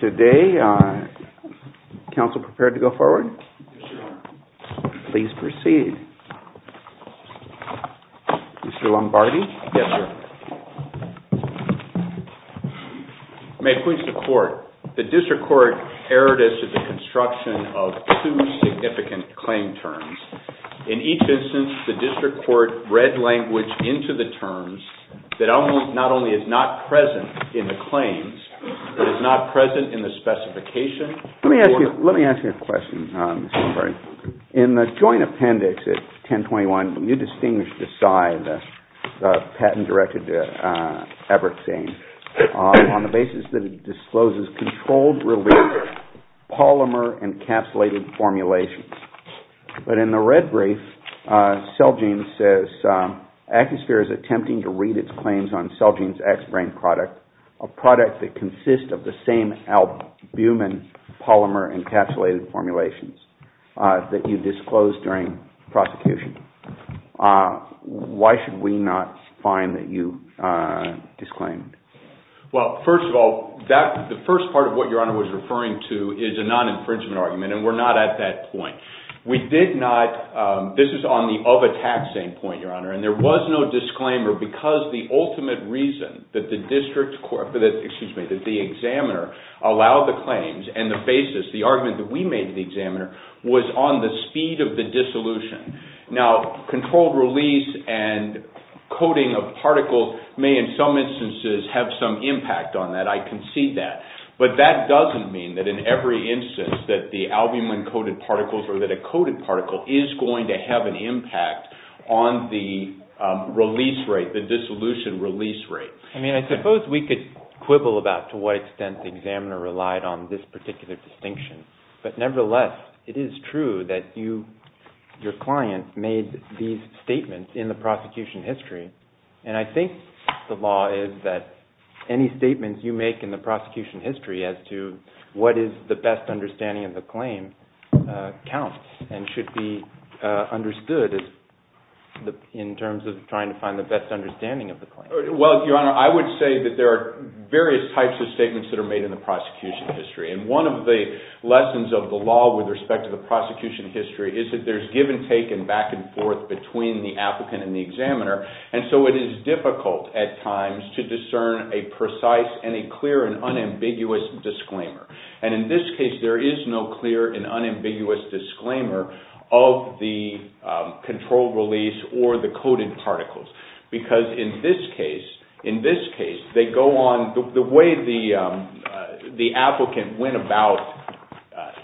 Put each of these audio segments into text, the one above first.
Today, the District Court erred as to the construction of two significant claim terms. In each instance, the District Court read language into the terms that not only is not Let me ask you a question. In the Joint Appendix at 1021, you distinguish the PSI, the patent directed to Abraxane, on the basis that it discloses controlled-release polymer-encapsulated formulations. But in the red brief, Celgene says, Accusphere is attempting to read its claims on Celgene's X-Brain product, a product that consists of the same albumin polymer-encapsulated formulations that you disclosed during prosecution. Why should we not find that you disclaimed? Well, first of all, the first part of what Your Honor was referring to is a non-infringement argument, and we're not at that point. This is on the of-attacks end point, Your Honor, and there was no disclaimer because the ultimate reason that the examiner allowed the claims and the basis, the argument that we made to the examiner, was on the speed of the dissolution. Now, controlled-release and coding of particles may, in some instances, have some impact on that. I concede that. But that doesn't mean that in every instance that the albumin-coded particles or that a coded particle is going to have an impact on the release rate, the dissolution release rate. I mean, I suppose we could quibble about to what extent the examiner relied on this particular distinction, but nevertheless, it is true that you, your client, made these statements in the prosecution history, and I think the law is that any statements you make in the prosecution history as to what is the best understanding of the claim counts and should be understood in terms of trying to find the best understanding of the claim. Well, Your Honor, I would say that there are various types of statements that are made in the prosecution history, and one of the lessons of the law with respect to the prosecution history is that there's give-and-take and back-and-forth between the applicant and the examiner, and so it is difficult at times to discern a precise and a clear and unambiguous disclaimer. And in this case, there is no clear and unambiguous disclaimer of the controlled release or the coded particles, because in this case, the way the applicant went about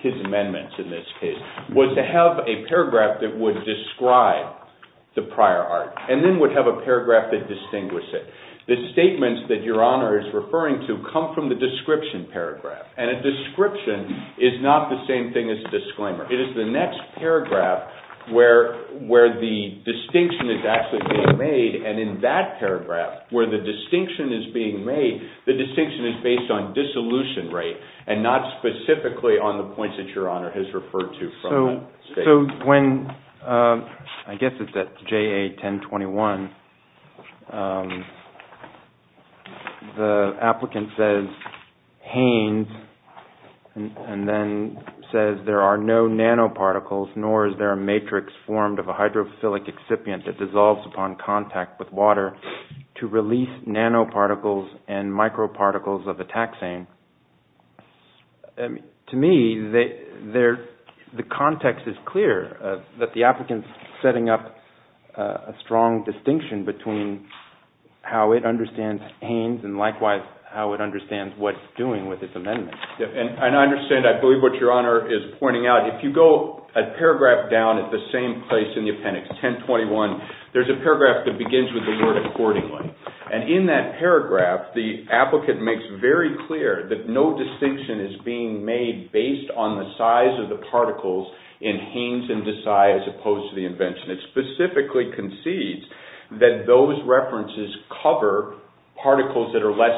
his amendments in this case was to have a paragraph that would describe the prior art and then would have a paragraph that would distinguish it. The statements that Your Honor is referring to come from the description paragraph, and a description is not the same thing as a disclaimer. It is the next paragraph where the distinction is actually being made, and in that paragraph where the distinction is being made, the distinction is based on dissolution rate and not specifically on the points that Your Honor has referred to from that statement. So when, I guess it's at JA 1021, the applicant says, Haines, and then says, There are no nanoparticles, nor is there a matrix formed of a hydrophilic excipient that dissolves upon contact with water to release nanoparticles and microparticles of a taxane. To me, the context is clear that the applicant is setting up a strong distinction between how it understands Haines and likewise how it understands what it's doing with its amendment. And I understand, I believe what Your Honor is pointing out. If you go a paragraph down at the same place in the appendix, 1021, there's a paragraph that begins with the word accordingly. And in that paragraph, the applicant makes very clear that no distinction is being made based on the size of the particles in Haines and Desai as opposed to the invention. It specifically concedes that those references cover particles that are less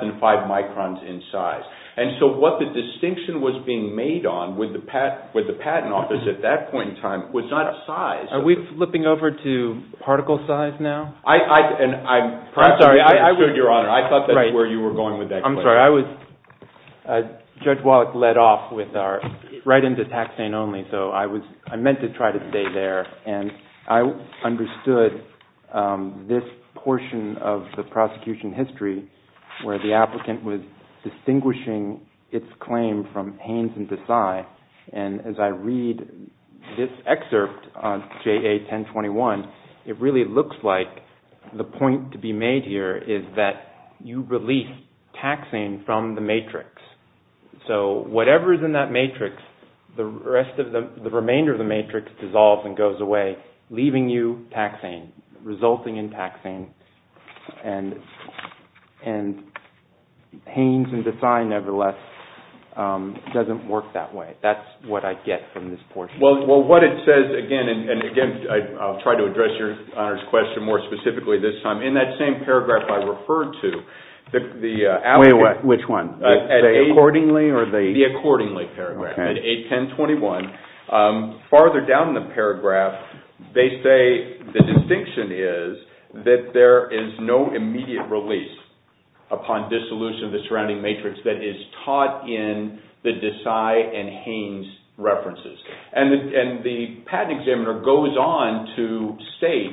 than five microns in size. And so what the distinction was being made on with the patent office at that point in time was not size. Are we flipping over to particle size now? I'm sorry. I heard Your Honor. I thought that's where you were going with that. I'm sorry. Judge Wallach led off right into taxane only, so I meant to try to stay there. And I understood this portion of the prosecution history where the applicant was distinguishing its claim from Haines and Desai. And as I read this excerpt on JA 1021, it really looks like the point to be made here is that you release taxane from the matrix. So whatever is in that matrix, the remainder of the matrix dissolves and goes away, leaving you taxane, resulting in taxane. And Haines and Desai, nevertheless, doesn't work that way. That's what I get from this portion. Well, what it says, again, and again, I'll try to address Your Honor's question more specifically this time. In that same paragraph I referred to, the applicant- Wait a minute. Which one? The accordingly or the- The accordingly paragraph. Okay. At JA 1021, farther down the paragraph, they say the distinction is that there is no immediate release upon dissolution of the surrounding matrix that is taught in the Desai and Haines references. And the patent examiner goes on to say,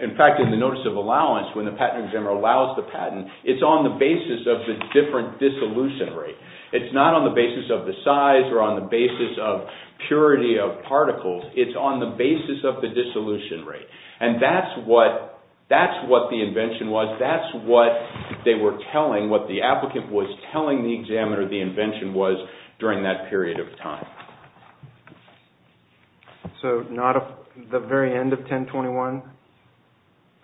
in fact, in the notice of allowance, when the patent examiner allows the patent, it's on the basis of the different dissolution rate. It's not on the basis of the size or on the basis of purity of particles. It's on the basis of the dissolution rate. And that's what the invention was. That's what they were telling, what the applicant was telling the examiner the invention was during that period of time. So the very end of 1021,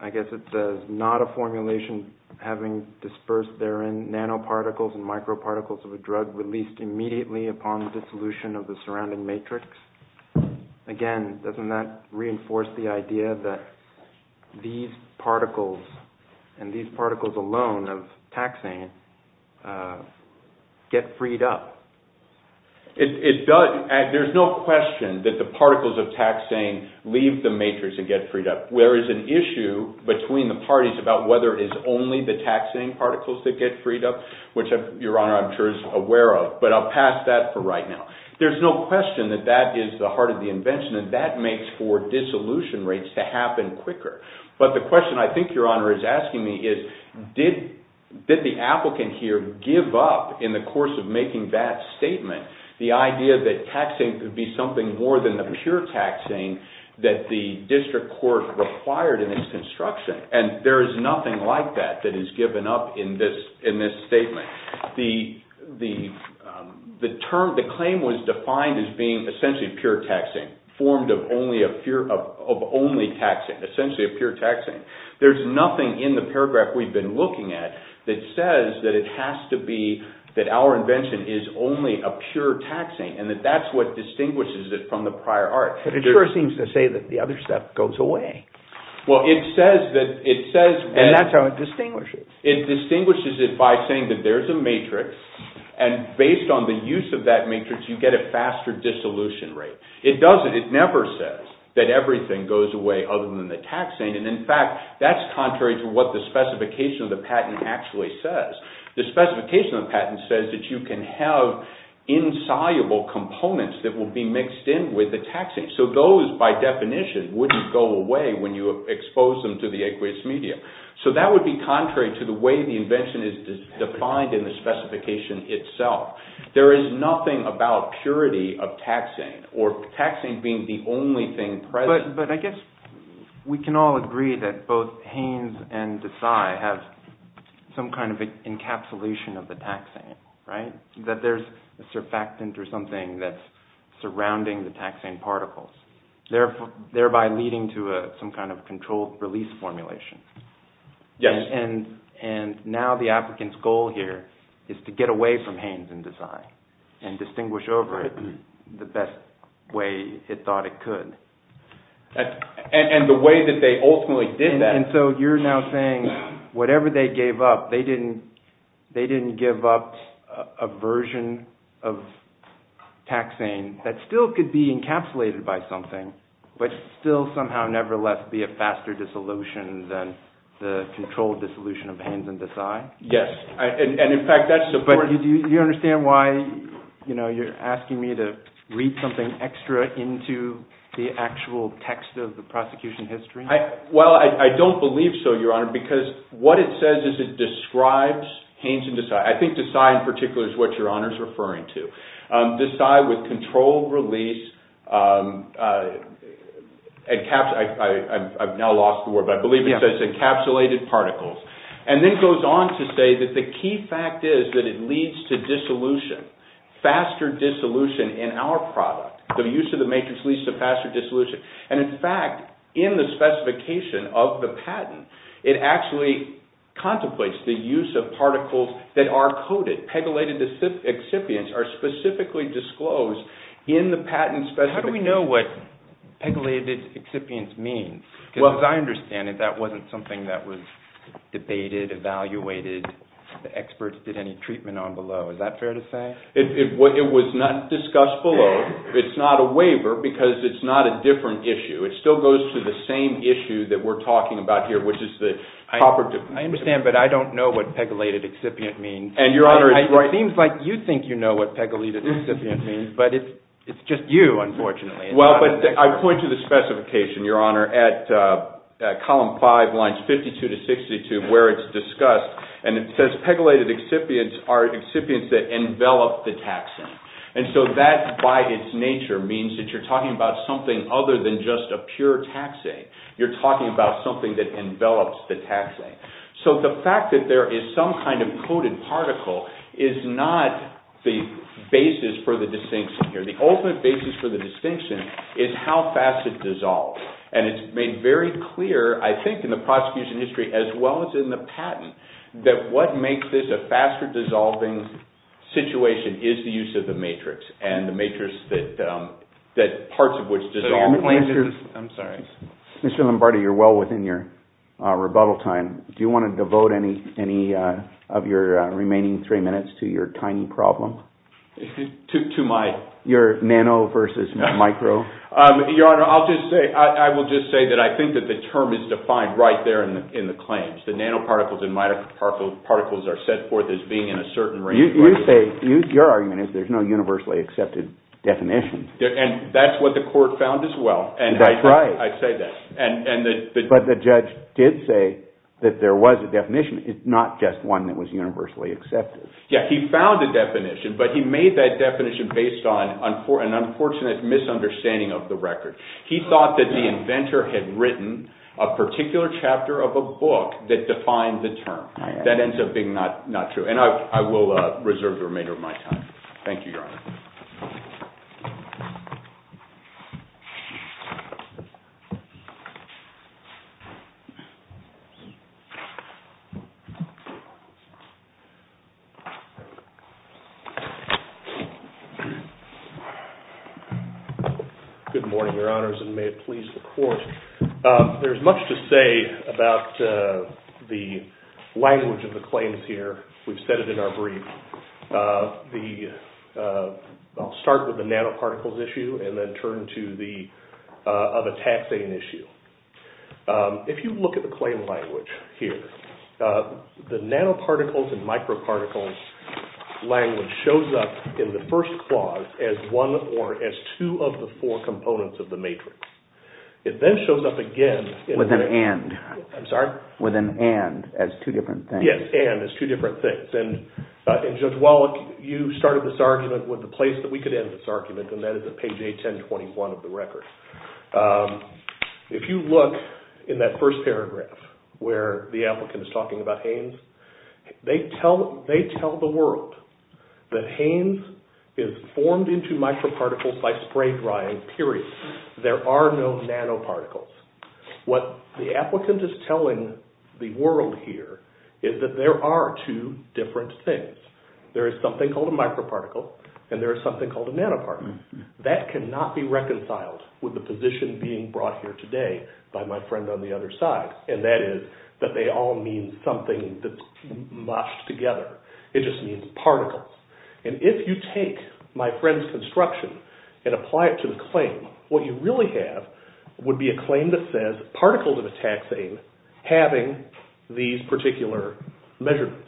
I guess it says, not a formulation having dispersed therein nanoparticles and microparticles of a drug released immediately upon dissolution of the surrounding matrix. Again, doesn't that reinforce the idea that these particles and these particles alone of taxane get freed up? There's no question that the particles of taxane leave the matrix and get freed up. There is an issue between the parties about whether it is only the taxane particles that get freed up, which, Your Honor, I'm sure is aware of. But I'll pass that for right now. There's no question that that is the heart of the invention and that makes for dissolution rates to happen quicker. But the question I think Your Honor is asking me is, did the applicant here give up in the course of making that statement, the idea that taxane could be something more than the pure taxane that the district court required in its construction? And there is nothing like that that is given up in this statement. The claim was defined as being essentially pure taxane, formed of only taxane, essentially a pure taxane. There's nothing in the paragraph we've been looking at that says that it has to be, that our invention is only a pure taxane, and that that's what distinguishes it from the prior art. But it sure seems to say that the other stuff goes away. Well, it says that— And that's how it distinguishes. It distinguishes it by saying that there's a matrix, and based on the use of that matrix, you get a faster dissolution rate. It doesn't. It never says that everything goes away other than the taxane. And, in fact, that's contrary to what the specification of the patent actually says. The specification of the patent says that you can have insoluble components that will be mixed in with the taxane. So those, by definition, wouldn't go away when you expose them to the aqueous medium. So that would be contrary to the way the invention is defined in the specification itself. There is nothing about purity of taxane, or taxane being the only thing present. But I guess we can all agree that both Haynes and Desai have some kind of encapsulation of the taxane, right? That there's a surfactant or something that's surrounding the taxane particles, thereby leading to some kind of controlled release formulation. Yes. And now the applicant's goal here is to get away from Haynes and Desai and distinguish over it the best way it thought it could. And the way that they ultimately did that— And so you're now saying whatever they gave up, they didn't give up a version of taxane that still could be encapsulated by something, but still somehow, nevertheless, be a faster dissolution than the controlled dissolution of Haynes and Desai? Yes. And, in fact, that's— But do you understand why you're asking me to read something extra into the actual text of the prosecution history? Well, I don't believe so, Your Honor, because what it says is it describes Haynes and Desai. I think Desai in particular is what Your Honor is referring to. Desai with controlled release—I've now lost the word, but I believe it says encapsulated particles. And then it goes on to say that the key fact is that it leads to dissolution, faster dissolution in our product. The use of the matrix leads to faster dissolution. And, in fact, in the specification of the patent, it actually contemplates the use of particles that are coded. Pegylated excipients are specifically disclosed in the patent specification. How do we know what pegylated excipients mean? Because as I understand it, that wasn't something that was debated, evaluated, the experts did any treatment on below. Is that fair to say? It was not discussed below. It's not a waiver because it's not a different issue. It still goes to the same issue that we're talking about here, which is the property— I understand, but I don't know what pegylated excipient means. And, Your Honor— It seems like you think you know what pegylated excipient means, but it's just you, unfortunately. Well, but I point to the specification, Your Honor, at column 5, lines 52 to 62, where it's discussed. And it says pegylated excipients are excipients that envelop the taxing. And so that, by its nature, means that you're talking about something other than just a pure taxing. You're talking about something that envelops the taxing. So the fact that there is some kind of coded particle is not the basis for the distinction here. The ultimate basis for the distinction is how fast it dissolves. And it's made very clear, I think, in the prosecution history as well as in the patent, that what makes this a faster-dissolving situation is the use of the matrix and the matrix that parts of which dissolve. Mr. Lombardi, you're well within your rebuttal time. Do you want to devote any of your remaining three minutes to your tiny problem? To my— Your nano versus micro. Your Honor, I'll just say—I will just say that I think that the term is defined right there in the claims. The nanoparticles and microparticles are set forth as being in a certain range. You say—your argument is there's no universally accepted definition. And that's what the court found as well. That's right. And I say that. But the judge did say that there was a definition. It's not just one that was universally accepted. Yeah, he found a definition, but he made that definition based on an unfortunate misunderstanding of the record. He thought that the inventor had written a particular chapter of a book that defined the term. That ends up being not true. And I will reserve the remainder of my time. Thank you, Your Honor. Good morning, Your Honors, and may it please the Court. There's much to say about the language of the claims here. We've said it in our brief. The—I'll start with the nanoparticles issue and then turn to the—of a taxing issue. If you look at the claim language here, the nanoparticles and microparticles language shows up in the first clause as one or as two of the four components of the matrix. It then shows up again— With an and. I'm sorry? With an and as two different things. Yes, and as two different things. And Judge Wallach, you started this argument with the place that we could end this argument, and that is at page 81021 of the record. If you look in that first paragraph where the applicant is talking about Hanes, they tell the world that Hanes is formed into microparticles by spray drying, period. There are no nanoparticles. What the applicant is telling the world here is that there are two different things. There is something called a microparticle and there is something called a nanoparticle. That cannot be reconciled with the position being brought here today by my friend on the other side, and that is that they all mean something that's moshed together. It just means particles. And if you take my friend's construction and apply it to the claim, what you really have would be a claim that says particles of a taxane having these particular measurements.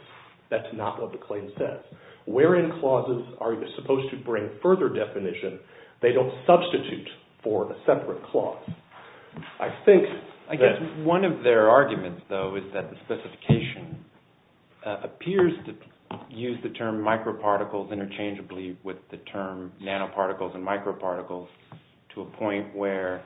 That's not what the claim says. Where in clauses are you supposed to bring further definition? They don't substitute for a separate clause. I guess one of their arguments, though, is that the specification appears to use the term microparticles interchangeably with the term nanoparticles and microparticles to a point where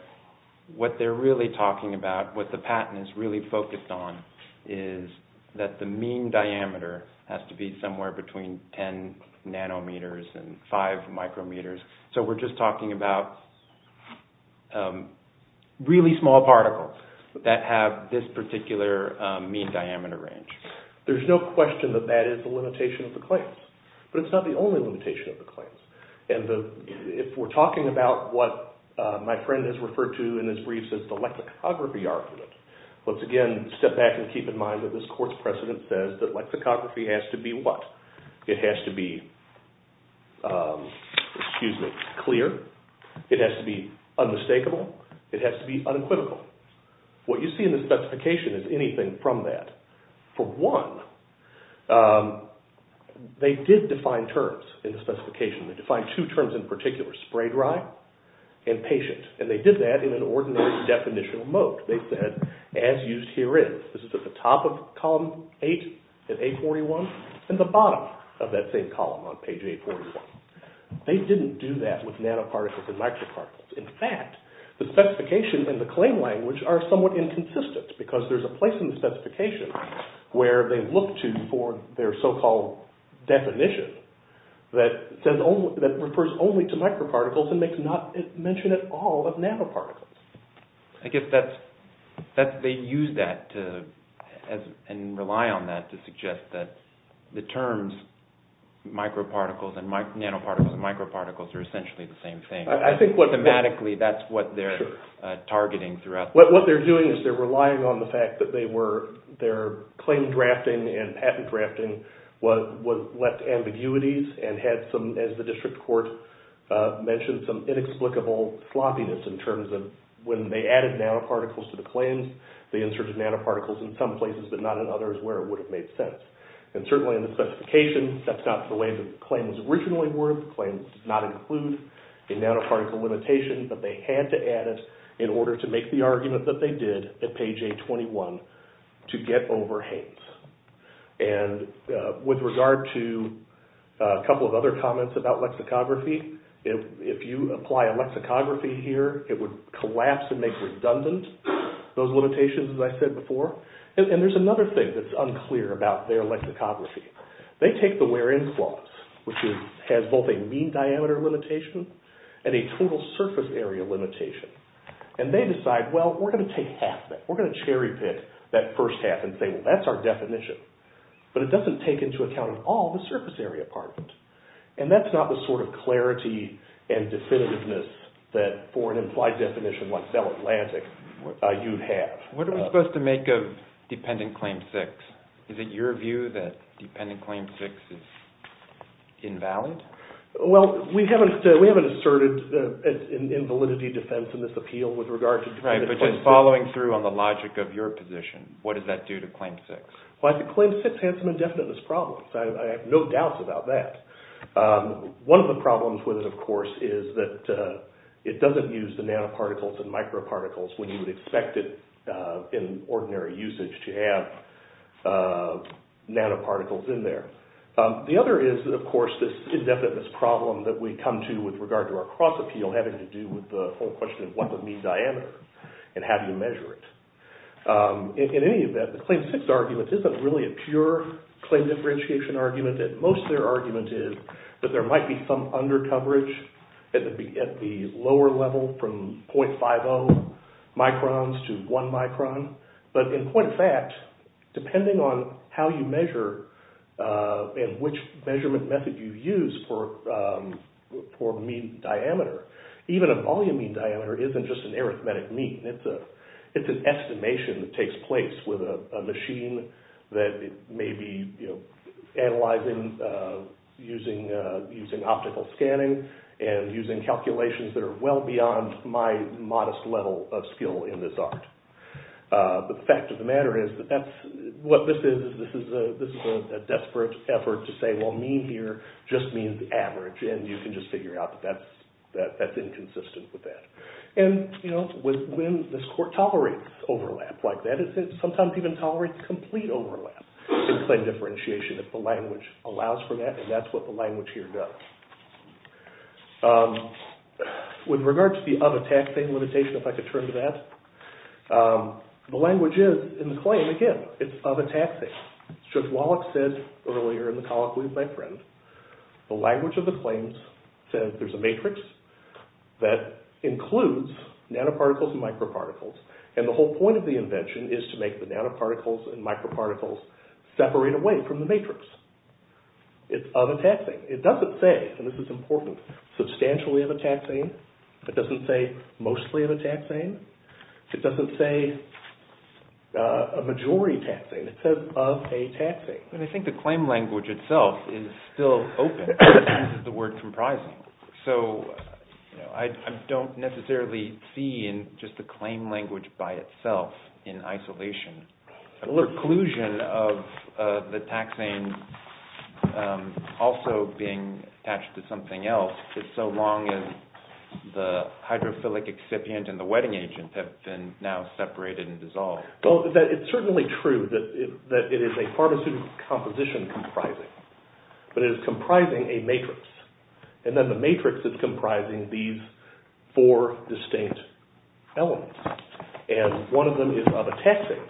what they're really talking about, what the patent is really focused on, is that the mean diameter has to be somewhere between 10 nanometers and 5 micrometers. So we're just talking about really small particles that have this particular mean diameter range. There's no question that that is the limitation of the claims, but it's not the only limitation of the claims. If we're talking about what my friend has referred to in his briefs as the lexicography argument, let's again step back and keep in mind that this court's precedent says that lexicography has to be what? It has to be clear. It has to be unmistakable. It has to be unequivocal. What you see in the specification is anything from that. For one, they did define terms in the specification. They defined two terms in particular, spray dry and patient, and they did that in an ordinary definitional mode. They said, as used here is. This is at the top of column 8 in A41 and the bottom of that same column on page 841. They didn't do that with nanoparticles and microparticles. In fact, the specifications in the claim language are somewhat inconsistent because there's a place in the specification where they look to for their so-called definition that refers only to microparticles and makes not mention at all of nanoparticles. I guess they use that and rely on that to suggest that the terms microparticles and nanoparticles and microparticles are essentially the same thing. I think thematically that's what they're targeting throughout. What they're doing is they're relying on the fact that their claim drafting and patent drafting left ambiguities and had some, as the district court mentioned, some inexplicable sloppiness in terms of when they added nanoparticles to the claims, they inserted nanoparticles in some places but not in others where it would have made sense. Certainly in the specification, that's not the way the claim was originally worded. The claim does not include a nanoparticle limitation, but they had to add it in order to make the argument that they did at page 821 to get over Haynes. With regard to a couple of other comments about lexicography, if you apply a lexicography here, it would collapse and make redundant those limitations, as I said before. And there's another thing that's unclear about their lexicography. They take the wherein clause, which has both a mean diameter limitation and a total surface area limitation, and they decide, well, we're going to take half that. We're going to cherry pick that first half and say, well, that's our definition. But it doesn't take into account at all the surface area part of it. And that's not the sort of clarity and definitiveness that for an implied definition like Bell Atlantic you'd have. What are we supposed to make of dependent claim 6? Is it your view that dependent claim 6 is invalid? Well, we haven't asserted an invalidity defense in this appeal with regard to dependent claim 6. Right, but just following through on the logic of your position, what does that do to claim 6? Well, I think claim 6 has some indefiniteness problems. I have no doubts about that. One of the problems with it, of course, is that it doesn't use the nanoparticles and microparticles when you would expect it in ordinary usage to have nanoparticles in there. The other is, of course, this indefiniteness problem that we come to with regard to our cross-appeal having to do with the whole question of what would mean diameter and how do you measure it? In any event, the claim 6 argument isn't really a pure claim differentiation argument. Most of their argument is that there might be some undercoverage at the lower level from 0.50 microns to 1 micron. But in point of fact, depending on how you measure and which measurement method you use for mean diameter, even a volume mean diameter isn't just an arithmetic mean. It's an estimation that takes place with a machine that may be analyzing using optical scanning and using calculations that are well beyond my modest level of skill in this art. But the fact of the matter is that this is a desperate effort to say, well, mean here just means average, and you can just figure out that that's inconsistent with that. And when this court tolerates overlap like that, it sometimes even tolerates complete overlap in claim differentiation if the language allows for that, and that's what the language here does. With regard to the of a taxing limitation, if I could turn to that, the language is in the claim, again, it's of a taxing. Just as Wallach said earlier in the colloquy with my friend, the language of the claims says there's a matrix that includes nanoparticles and microparticles, and the whole point of the invention is to make the nanoparticles and microparticles separate away from the matrix. It's of a taxing. It doesn't say, and this is important, substantially of a taxing. It doesn't say mostly of a taxing. It doesn't say a majority taxing. It says of a taxing. But I think the claim language itself is still open to the word comprising. So I don't necessarily see in just the claim language by itself in isolation. The preclusion of the taxing also being attached to something else is so long as the hydrophilic excipient and the wetting agent have been now separated and dissolved. It's certainly true that it is a pharmaceutical composition comprising, but it is comprising a matrix. And then the matrix is comprising these four distinct elements. And one of them is of a taxing.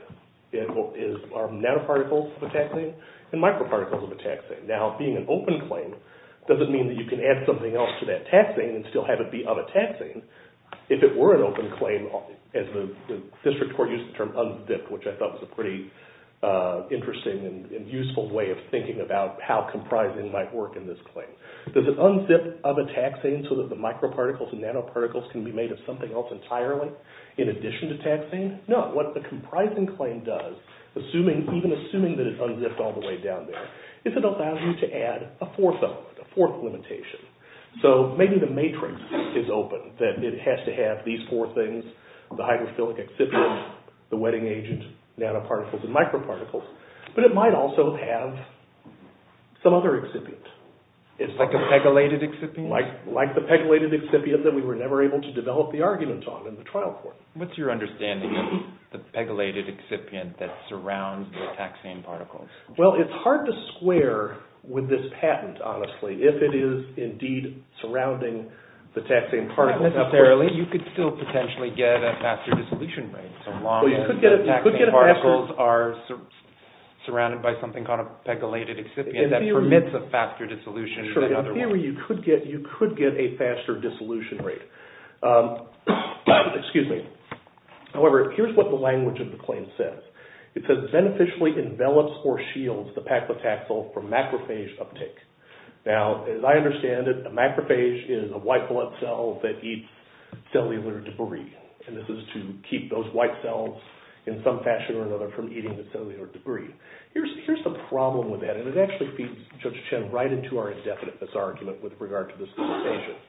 It is nanoparticles of a taxing and microparticles of a taxing. Now, being an open claim doesn't mean that you can add something else to that taxing and still have it be of a taxing. If it were an open claim, as the district court used the term unzipped, which I thought was a pretty interesting and useful way of thinking about how comprising might work in this claim. Does it unzip of a taxing so that the microparticles and nanoparticles can be made of something else entirely in addition to taxing? No. What the comprising claim does, even assuming that it's unzipped all the way down there, is it allows you to add a fourth element, a fourth limitation. So maybe the matrix is open, that it has to have these four things, the hydrophilic excipient, the wetting agent, nanoparticles, and microparticles. But it might also have some other excipient. It's like a pegylated excipient? Like the pegylated excipient that we were never able to develop the arguments on in the trial court. What's your understanding of the pegylated excipient that surrounds the taxing particles? Well, it's hard to square with this patent, honestly, if it is indeed surrounding the taxing particles. Not necessarily. You could still potentially get a faster dissolution rate, so long as the taxing particles are surrounded by something called a pegylated excipient that permits a faster dissolution rate. In theory, you could get a faster dissolution rate. However, here's what the language of the claim says. It says, beneficially envelops or shields the paclitaxel from macrophage uptake. Now, as I understand it, a macrophage is a white blood cell that eats cellular debris. And this is to keep those white cells, in some fashion or another, from eating the cellular debris. Here's the problem with that, and it actually feeds Judge Chen right into our indefiniteness argument with regard to this dissertation.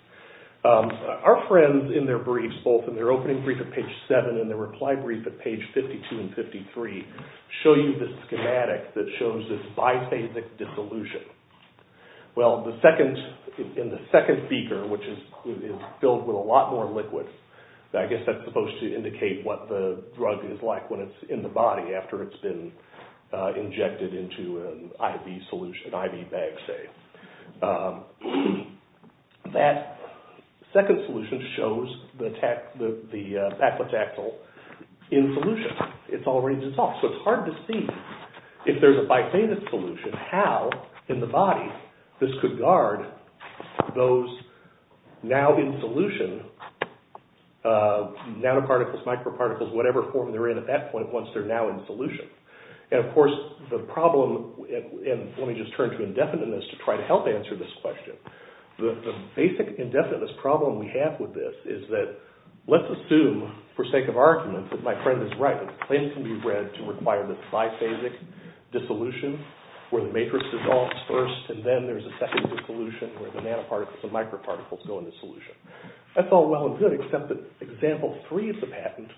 Our friends, in their briefs, both in their opening brief at page 7 and their reply brief at page 52 and 53, show you this schematic that shows this biphasic dissolution. Well, in the second beaker, which is filled with a lot more liquids, I guess that's supposed to indicate what the drug is like when it's in the body after it's been injected into an IV solution, an IV bag, say. That second solution shows the paclitaxel in solution. So it's hard to see, if there's a biphasic solution, how, in the body, this could guard those now in solution nanoparticles, microparticles, whatever form they're in at that point once they're now in solution. And, of course, the problem, and let me just turn to indefiniteness to try to help answer this question. The basic indefiniteness problem we have with this is that let's assume, for sake of argument, that my friend is right. The claim can be read to require the biphasic dissolution where the matrix dissolves first, and then there's a second dissolution where the nanoparticles and microparticles go into solution. That's all well and good, except that example 3 of the patent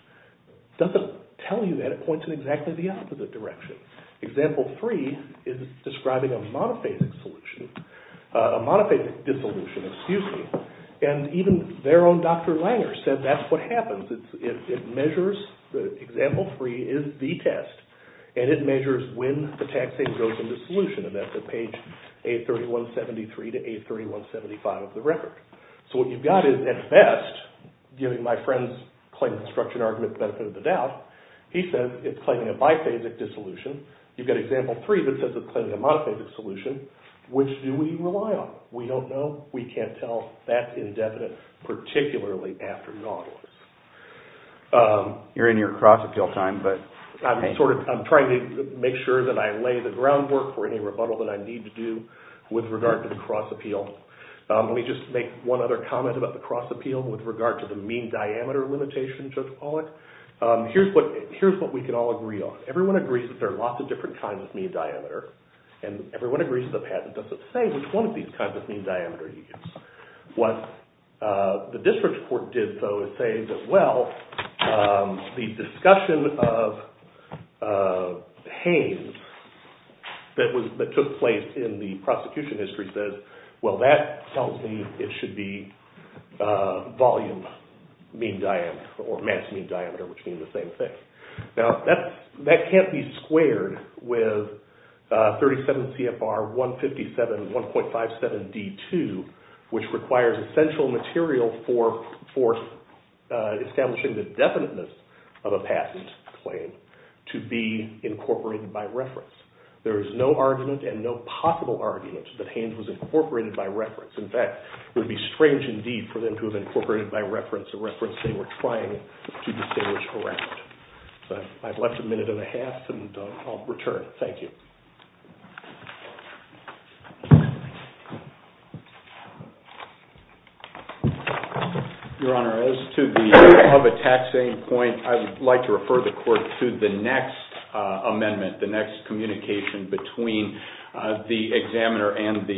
doesn't tell you that it points in exactly the opposite direction. Example 3 is describing a monophasic solution, a monophasic dissolution, excuse me, and even their own Dr. Langer said that's what happens. It measures, example 3 is the test, and it measures when the taxate goes into solution, and that's at page 831.73 to 831.75 of the record. So, what you've got is, at best, giving my friend's claim construction argument the benefit of the doubt. He says it's claiming a biphasic dissolution. You've got example 3 that says it's claiming a monophasic solution. Which do we rely on? We don't know. We can't tell. That's indefinite, particularly after Nautilus. You're in your cross-appeal time, but... I'm trying to make sure that I lay the groundwork for any rebuttal that I need to do with regard to the cross-appeal. Let me just make one other comment about the cross-appeal with regard to the mean diameter limitation, Judge Pollack. Here's what we can all agree on. Everyone agrees that there are lots of different kinds of mean diameter, and everyone agrees that the patent doesn't say which one of these kinds of mean diameter you use. What the district court did, though, is say that, well, the discussion of Haines that took place in the prosecution history says, well, that tells me it should be volume mean diameter or mass mean diameter, which means the same thing. Now, that can't be squared with 37 CFR 157 1.57 D2, which requires essential material for establishing the definiteness of a patent claim to be incorporated by reference. There is no argument and no possible argument that Haines was incorporated by reference. In fact, it would be strange indeed for them to have incorporated by reference a reference they were trying to distinguish around. I've left a minute and a half, and I'll return. Thank you. Your Honor, as to the above-attached point, I would like to refer the court to the next amendment, the next communication between the examiner and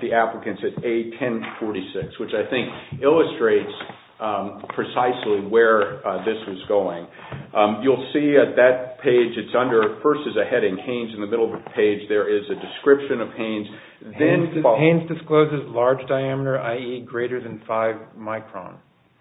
the applicants at A1046, which I think illustrates precisely where this was going. You'll see at that page, it's under, first there's a heading, Haines, in the middle of the page. There is a description of Haines. Haines discloses large diameter, i.e., greater than five micron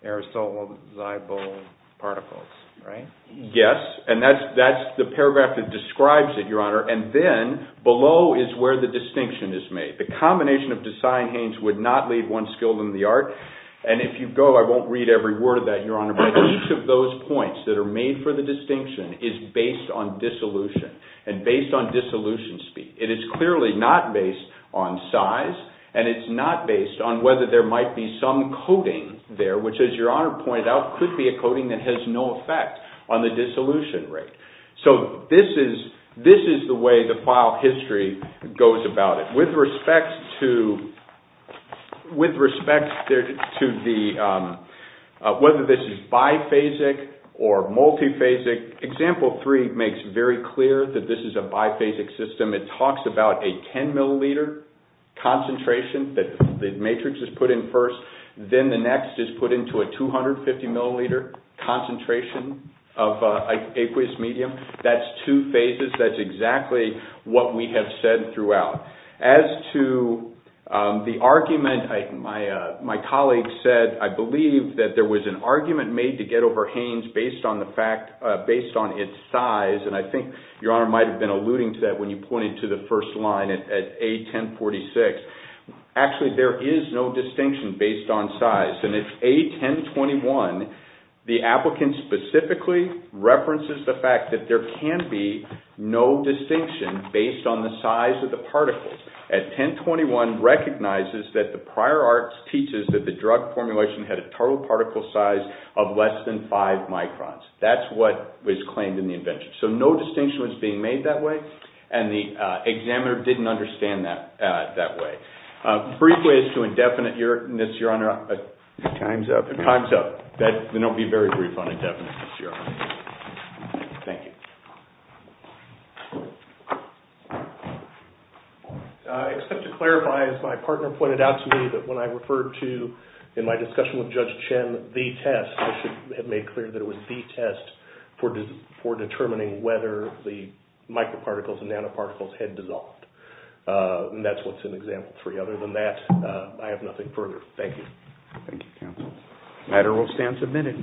aerosolizable particles, right? Yes, and that's the paragraph that describes it, Your Honor. And then below is where the distinction is made. The combination of Desai and Haines would not leave one skilled in the art. And if you go, I won't read every word of that, Your Honor, but each of those points that are made for the distinction is based on dissolution, and based on dissolution speed. It is clearly not based on size, and it's not based on whether there might be some coating there, which, as Your Honor pointed out, could be a coating that has no effect on the dissolution rate. So this is the way the file history goes about it. With respect to whether this is biphasic or multiphasic, Example 3 makes very clear that this is a biphasic system. It talks about a 10 milliliter concentration that the matrix is put in first, then the next is put into a 250 milliliter concentration of aqueous medium. That's two phases. That's exactly what we have said throughout. As to the argument, my colleague said, I believe that there was an argument made to get over Haines based on its size, and I think Your Honor might have been alluding to that when you pointed to the first line at A1046. Actually, there is no distinction based on size. In A1021, the applicant specifically references the fact that there can be no distinction based on the size of the particles. A1021 recognizes that the prior arts teaches that the drug formulation had a total particle size of less than 5 microns. That's what was claimed in the invention. So no distinction was being made that way, and the examiner didn't understand that way. Brief ways to indefiniteness, Your Honor. Time's up. Time's up. Then I'll be very brief on indefiniteness, Your Honor. Thank you. I expect to clarify, as my partner pointed out to me, that when I referred to in my discussion with Judge Chen the test, I should have made clear that it was the test for determining whether the microparticles and nanoparticles had dissolved. That's what's in Example 3. Other than that, I have nothing further. Thank you. Thank you, counsel. The matter will stand submitted.